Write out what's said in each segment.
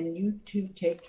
and Joseph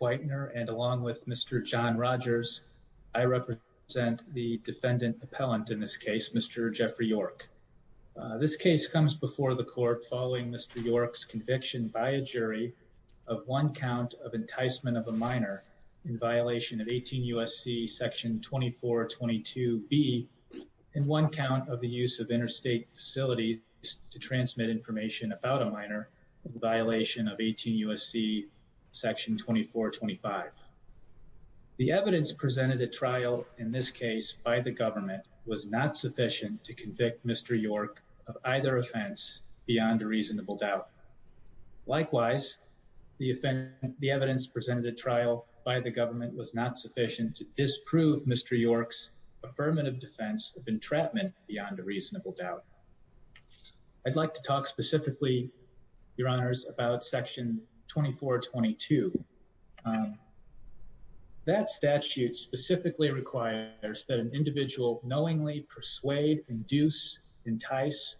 Weitner, and along with Mr. John Rogers, I represent the defendant appellant in this case, and I'm here to testify on behalf of Mr. Jeffrey York. This case comes before the court following Mr. York's conviction by a jury of one count of enticement of a minor in violation of 18 U.S.C. section 2422B, and one count of the use of interstate facilities to transmit information about a minor in violation of 18 U.S.C. section 2425. The evidence presented at trial in this case by the government was not sufficient to convict Mr. York of either offense beyond a reasonable doubt. Likewise, the evidence presented at trial by the government was not sufficient to disprove Mr. York's affirmative defense of entrapment beyond a reasonable doubt. I'd like to talk specifically, your honors, about section 2422. That statute specifically requires that an individual knowingly persuade, induce, entice,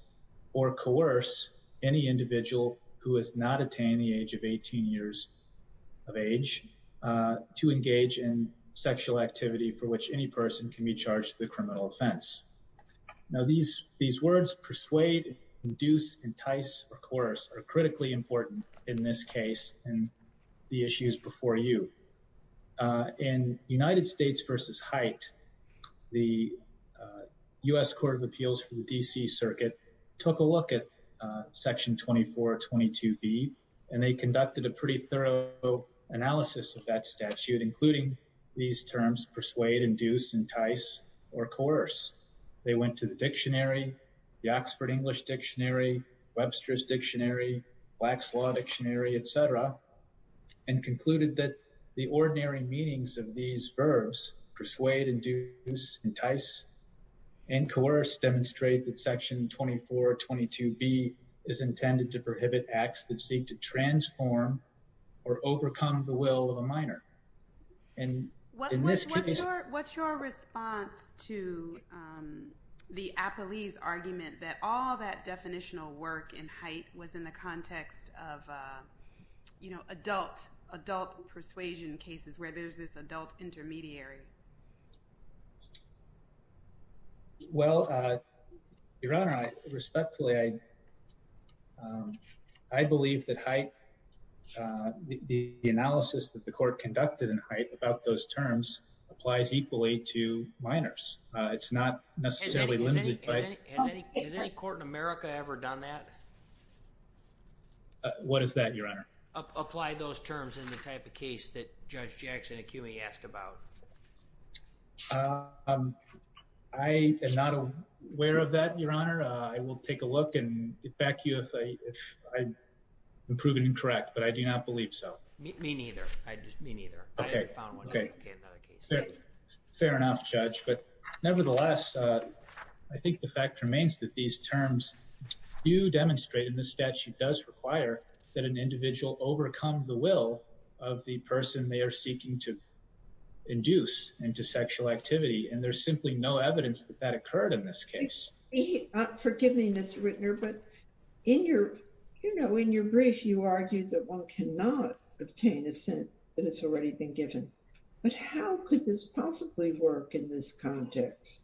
or coerce any individual who has not attained the age of 18 years of age to engage in sexual activity for which any person can be charged with a criminal offense. Now, these words, persuade, induce, entice, or coerce, are critically important in this case and the issues before you. In United States v. Hite, the U.S. Court of Appeals for the D.C. Circuit took a look at section 2422B, and they conducted a pretty thorough analysis of that statute, including these terms, persuade, induce, entice, or coerce. They went to the dictionary, the Oxford English Dictionary, Webster's Dictionary, Black's Law Dictionary, etc., and concluded that the ordinary meanings of these verbs, persuade, induce, entice, and coerce, demonstrate that section 2422B is intended to prohibit acts that seek to transform or overcome the will of a minor. What's your response to the appellee's argument that all that definitional work in Hite was in the context of, you know, adult, adult persuasion cases where there's this adult intermediary? Well, Your Honor, respectfully, I believe that Hite, the analysis that the court conducted in Hite about those terms applies equally to minors. It's not necessarily limited by... Has any court in America ever done that? What is that, Your Honor? Apply those terms in the type of case that Judge Jackson-Akumi asked about? I am not aware of that, Your Honor. I will take a look and get back to you if I'm proven incorrect, but I do not believe so. Me neither. I just... me neither. Okay. Okay. Fair enough, Judge. But, nevertheless, I think the fact remains that these terms do demonstrate, and the statute does require, that an individual overcome the will of the person they are seeking to induce into sexual activity, and there's simply no evidence that that occurred in this case. Forgive me, Mr. Rittner, but in your, you know, in your brief, you argued that one cannot obtain assent that has already been given. But how could this possibly work in this context?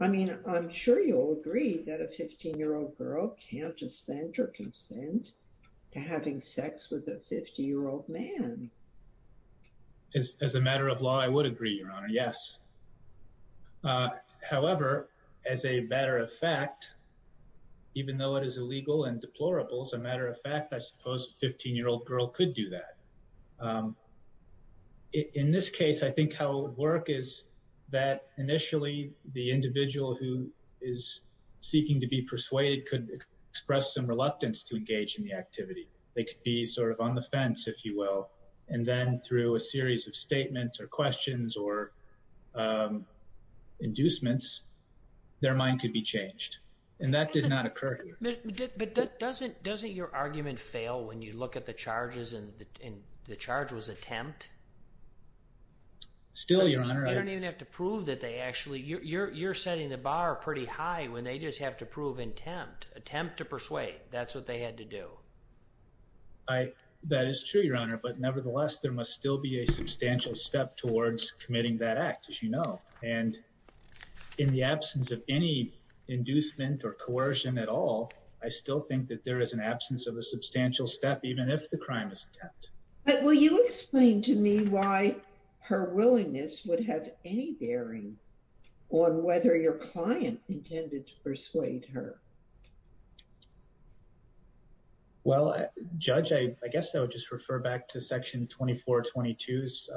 I mean, I'm sure you'll agree that a 15-year-old girl can't assent or consent to having sex with a 50-year-old man. As a matter of law, I would agree, Your Honor, yes. However, as a matter of fact, even though it is illegal and deplorable, as a matter of fact, I suppose a 15-year-old girl could do that. In this case, I think how it would work is that initially the individual who is seeking to be persuaded could express some reluctance to engage in the activity. They could be sort of on the fence, if you will, and then through a series of statements or questions or inducements, their mind could be changed. And that did not occur here. But doesn't your argument fail when you look at the charges and the charge was attempt? Still, Your Honor, I... You don't even have to prove that they actually, you're setting the bar pretty high when they just have to prove intent, attempt to persuade. That's what they had to do. That is true, Your Honor. But nevertheless, there must still be a substantial step towards committing that act, as you know. And in the absence of any inducement or coercion at all, I still think that there is an absence of a substantial step, even if the crime is attempt. Will you explain to me why her willingness would have any bearing on whether your client intended to persuade her? Well, Judge, I guess I would just refer back to Section 2422's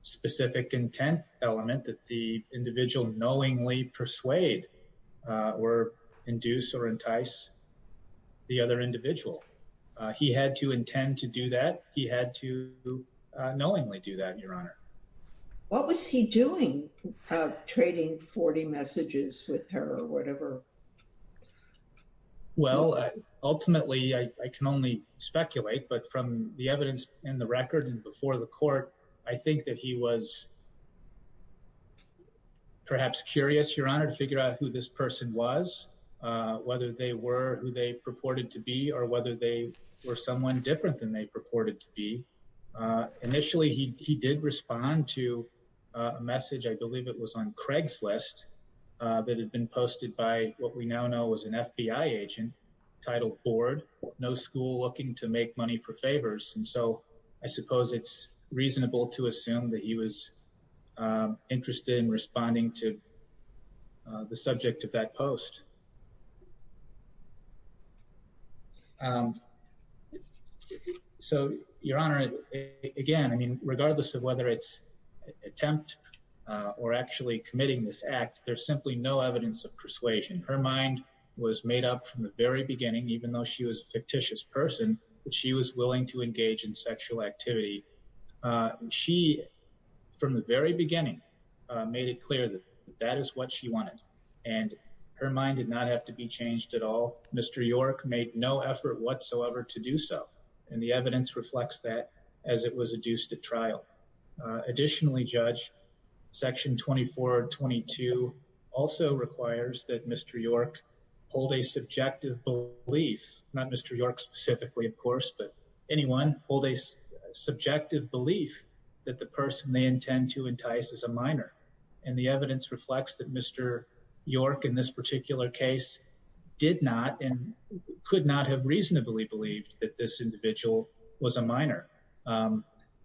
specific intent element that the individual knowingly persuade or induce or entice the other individual. He had to intend to do that. He had to knowingly do that, Your Honor. What was he doing trading 40 messages with her or whatever? Well, ultimately, I can only speculate, but from the evidence in the record and before the court, I think that he was perhaps curious, Your Honor, to figure out who this person was, whether they were who they purported to be or whether they were someone different than they purported to be. Initially, he did respond to a message. I believe it was on Craig's list that had been posted by what we now know was an FBI agent titled Bored, No School Looking to Make Money for Favors. And so I suppose it's reasonable to assume that he was interested in responding to the subject of that post. So, Your Honor, again, I mean, regardless of whether it's an attempt or actually committing this act, there's simply no evidence of persuasion. Her mind was made up from the very beginning, even though she was a fictitious person, that she was willing to engage in sexual activity. She, from the very beginning, made it clear that that is what she wanted, and her mind did not have to be changed at all. Mr. York made no effort whatsoever to do so, and the evidence reflects that as it was adduced at trial. Additionally, Judge, Section 2422 also requires that Mr. York hold a subjective belief, not Mr. York specifically, of course, but anyone hold a subjective belief that the person they intend to entice is a minor, and the evidence reflects that Mr. York in this particular case did not and could not have reasonably believed that this individual was a minor.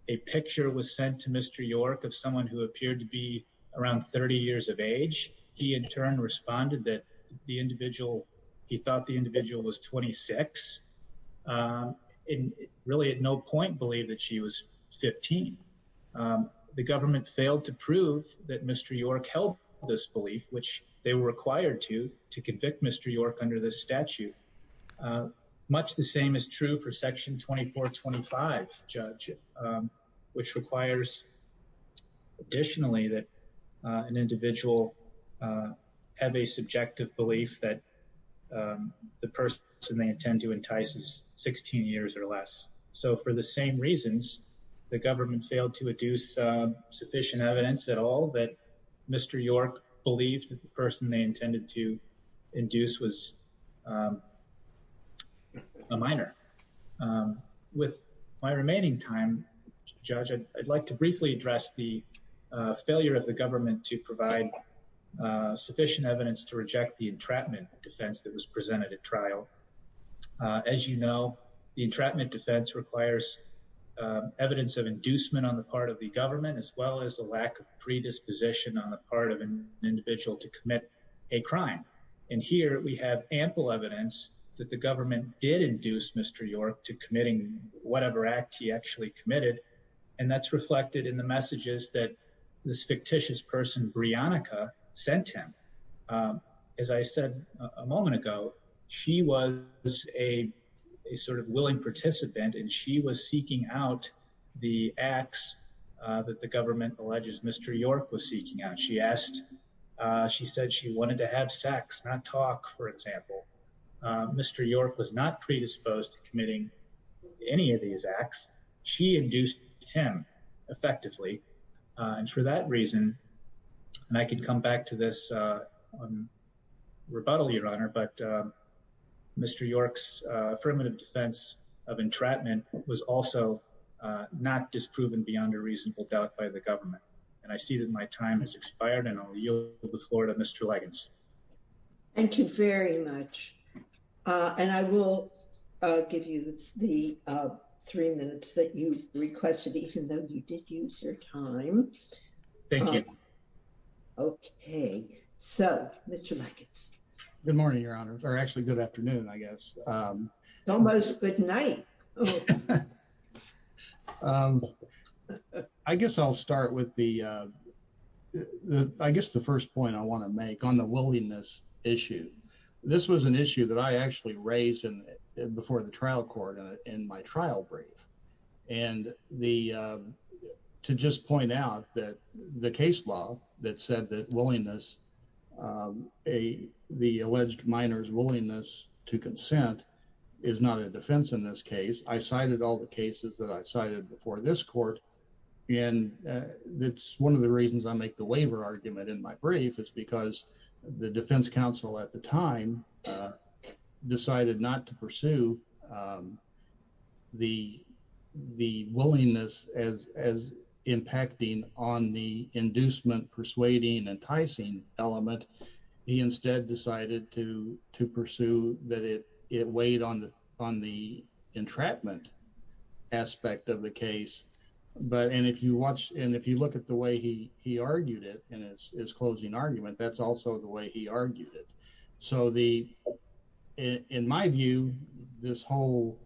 A picture was sent to Mr. York of someone who appeared to be around 30 years of age. He in turn responded that the individual, he thought the individual was 26, and really at no point believed that she was 15. The government failed to prove that Mr. York held this belief, which they were required to, to convict Mr. York under this statute. Much the same is true for Section 2425, Judge, which requires additionally that an individual have a subjective belief that the person they intend to entice is 16 years or less. So for the same reasons, the government failed to adduce sufficient evidence at all that Mr. York believed that the person they intended to induce was a minor. With my remaining time, Judge, I'd like to briefly address the failure of the government to provide sufficient evidence to reject the entrapment defense that was presented at trial. As you know, the entrapment defense requires evidence of inducement on the part of the government as well as the lack of predisposition on the part of an individual to commit a crime. And here we have ample evidence that the government did induce Mr. York to committing whatever act he actually committed, and that's reflected in the messages that this fictitious person, Briannica, sent him. As I said a moment ago, she was a sort of willing participant and she was seeking out the acts that the government alleges Mr. York was seeking out. She asked, she said she wanted to have sex, not talk, for example. Mr. York was not predisposed to committing any of these acts. She induced him effectively, and for that reason, and I can come back to this rebuttal, Your Honor, but Mr. York's affirmative defense of entrapment was also not disproven beyond a reasonable doubt by the government. And I see that my time has expired and I'll yield the floor to Mr. Liggins. Thank you very much. And I will give you the three minutes that you requested, even though you did use your time. Thank you. Okay, so, Mr. Liggins. Good morning, Your Honor, or actually good afternoon, I guess. Almost good night. I guess I'll start with the, I guess the first point I want to make on the willingness issue. This was an issue that I actually raised before the trial court in my trial brief. And the, to just point out that the case law that said that willingness, the alleged minors willingness to consent is not a defense in this case, I cited all the cases that I cited before this court. And that's one of the reasons I make the waiver argument in my brief is because the defense counsel at the time decided not to pursue the willingness as impacting on the inducement, persuading, enticing element. He instead decided to pursue that it weighed on the entrapment aspect of the case. But, and if you watch, and if you look at the way he argued it in his closing argument, that's also the way he argued it. So the, in my view, this whole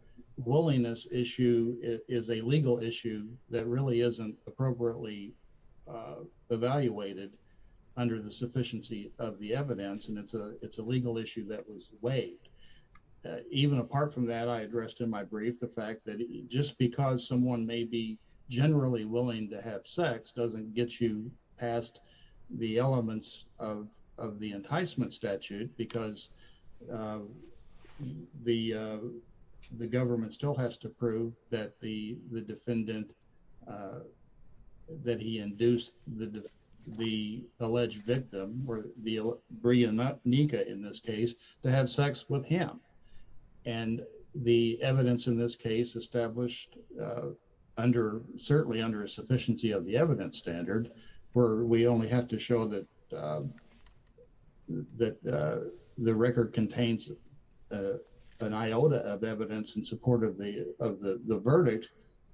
willingness issue is a legal issue that really isn't appropriately evaluated under the sufficiency of the evidence and it's a, it's a legal issue that was weighed. Even apart from that, I addressed in my brief, the fact that just because someone may be generally willing to have sex doesn't get you past the elements of the enticement statute because the government still has to prove that the defendant, that he induced the alleged victim, Brea, not Nika in this case, to have sex with him. And the evidence in this case established under, certainly under a sufficiency of the evidence standard where we only have to show that the record contains an iota of evidence in support of the verdict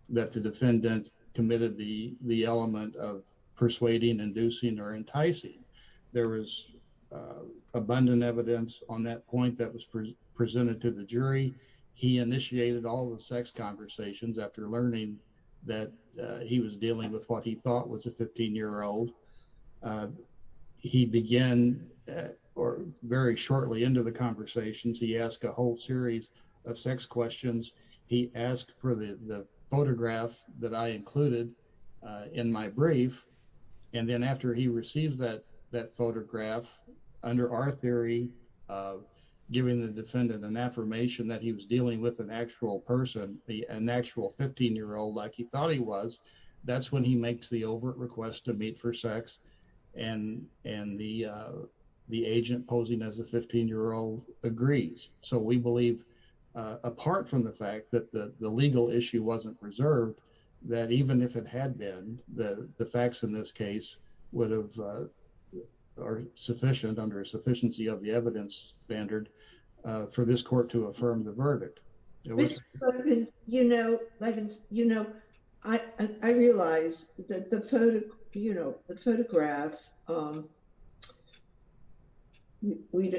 that the defendant committed the element of persuading, inducing, or enticing. There was abundant evidence on that point that was presented to the jury. He initiated all the sex conversations after learning that he was dealing with what he thought was a 15 year old. He began, or very shortly into the conversations, he asked a whole series of sex questions. He asked for the photograph that I included in my brief. And then after he received that, that photograph, under our theory of giving the defendant an affirmation that he was dealing with an actual person, an actual 15 year old like he thought he was, that's when he makes the overt request to meet for sex. And the agent posing as a 15 year old agrees. So we believe, apart from the fact that the legal issue wasn't reserved, that even if it had been, the facts in this case would have, are sufficient under a sufficiency of the evidence standard for this court to affirm the verdict. You know, I realize that the photograph, we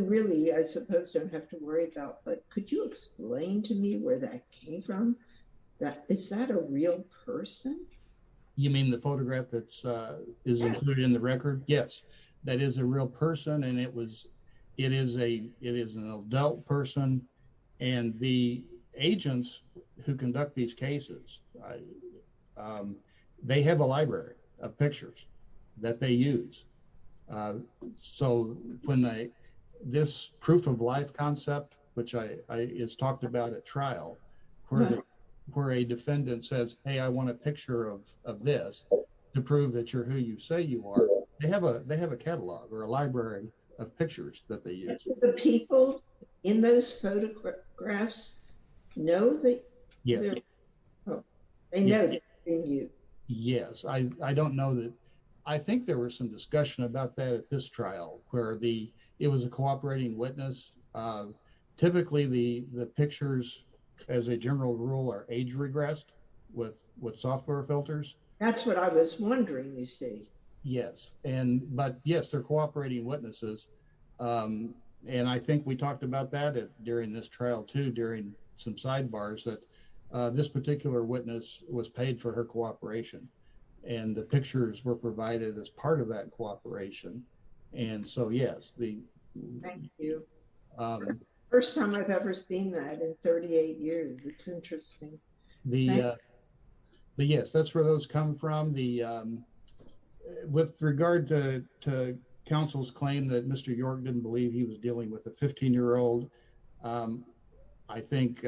really, I suppose, don't have to worry about, but could you explain to me where that came from? Is that a real person? You mean the photograph that is included in the record? Yes, that is a real person and it is an adult person. And the agents who conduct these cases, they have a library of pictures that they use. So when they, this proof of life concept, which is talked about at trial, where a defendant says, hey, I want a picture of this to prove that you're who you say you are, they have a catalog or a library of pictures that they use. The people in those photographs know that? Yes. They know that it's you. Yes, I don't know that. I think there was some discussion about that at this trial where it was a cooperating witness. Typically the pictures, as a general rule, are age regressed with software filters. That's what I was wondering, you see. Yes. But yes, they're cooperating witnesses. And I think we talked about that during this trial too, during some sidebars, that this particular witness was paid for her cooperation and the pictures were provided as part of that cooperation. And so, yes. Thank you. First time I've ever seen that in 38 years. It's interesting. Thank you. But yes, that's where those come from. With regard to counsel's claim that Mr. York didn't believe he was dealing with a 15 year old, I think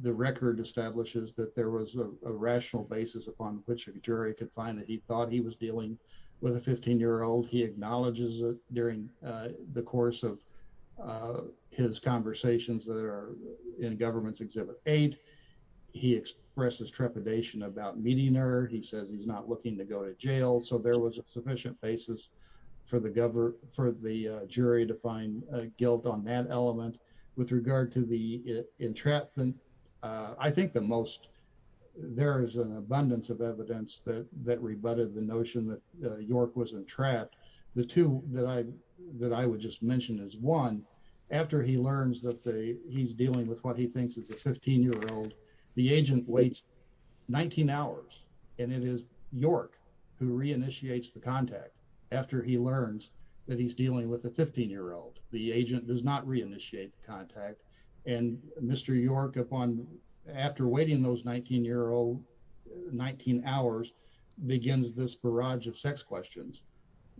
the record establishes that there was a rational basis upon which a jury could find that he thought he was dealing with a 15 year old. He acknowledges it during the course of his conversations that are in Government's Exhibit 8. He expresses trepidation about meeting her. He says he's not looking to go to jail. So there was a sufficient basis for the jury to find guilt on that element. With regard to the entrapment, I think the most, there is an abundance of evidence that rebutted the notion that York was entrapped. The two that I would just mention is one, after he learns that he's dealing with what he thinks is a 15 year old, the agent waits 19 hours, and it is York who re-initiates the contact after he learns that he's dealing with a 15 year old. The agent does not re-initiate the contact. And Mr. York, upon, after waiting those 19 year old, 19 hours, begins this barrage of sex questions.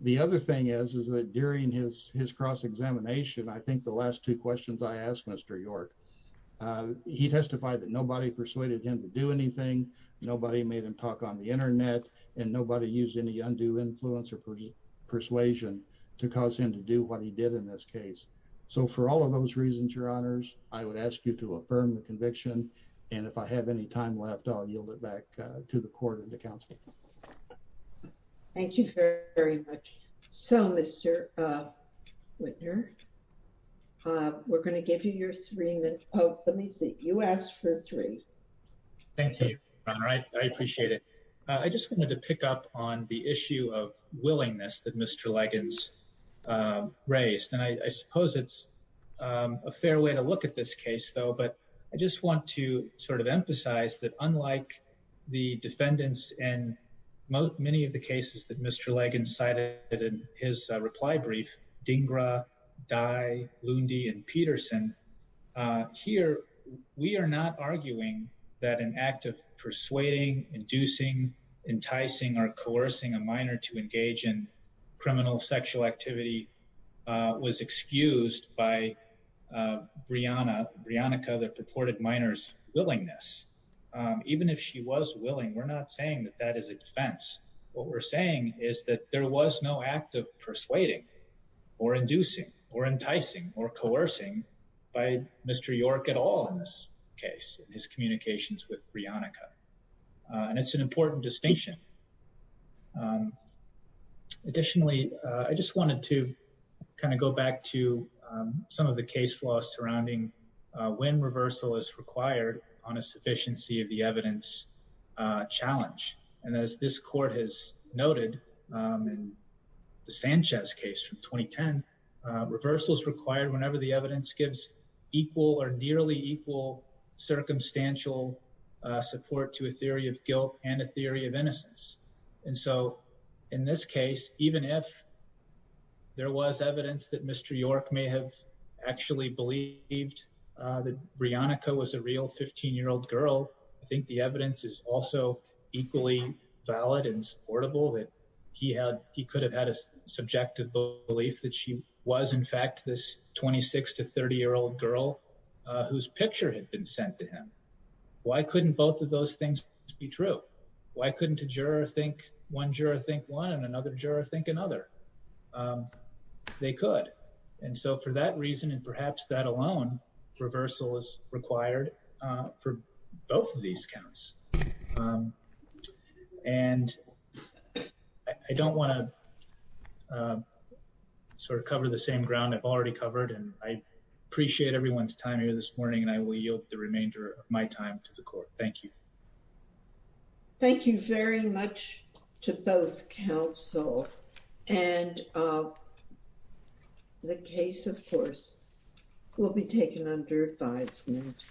The other thing is, is that during his cross-examination, I think the last two questions I asked Mr. York, he testified that nobody persuaded him to do anything, nobody made him talk on the internet, and nobody used any undue influence or persuasion to cause him to do what he did in this case. So for all of those reasons, your honors, I would ask you to affirm the conviction. And if I have any time left, I'll yield it back to the court and to counsel. Thank you very much. So, Mr. Whitner, we're going to give you your three minutes. Oh, let me see. You asked for three. Thank you, your honor. I appreciate it. I just wanted to pick up on the issue of willingness that Mr. Leggins raised. And I suppose it's a fair way to look at this case, though. But I just want to sort of emphasize that unlike the defendants and many of the cases that Mr. Leggins cited in his reply brief, Dhingra, Dai, Lundi, and Peterson, here, we are not arguing that an act of persuading, inducing, enticing, or coercing a minor to engage in criminal sexual activity was excused by Brianna, that purported minors willingness. Even if she was willing, we're not saying that that is a defense. What we're saying is that there was no act of persuading or inducing or enticing or coercing by Mr. York at all in this case, in his communications with Brianna. And it's an important distinction. Additionally, I just wanted to kind of go back to some of the case law surrounding when reversal is required on a sufficiency of the evidence challenge. And as this court has noted in the Sanchez case from 2010, reversal is required whenever the evidence gives equal or nearly equal circumstantial support to a theory of guilt and a theory of innocence. And so in this case, even if there was evidence that Mr. York may have actually believed that Brianna was a real 15-year-old girl, I think the evidence is also equally valid and supportable that he could have had a subjective belief that she was in fact this 26 to 30-year-old girl whose picture had been sent to him. And so I just wanted to kind of go back to some of the case law surrounding when reversal is required on a sufficiency of the evidence challenge. And as this court has noted in the Sanchez case from 2010, when reversal is required on a sufficiency of the evidence challenge, I think the evidence is also equally valid and supportable that he could have had a subjective belief that she was in fact this 26 to 30-year-old girl whose picture had been sent to him. Thank you. Thank you very much to both counsel and the case, of course, will be taken under advisement.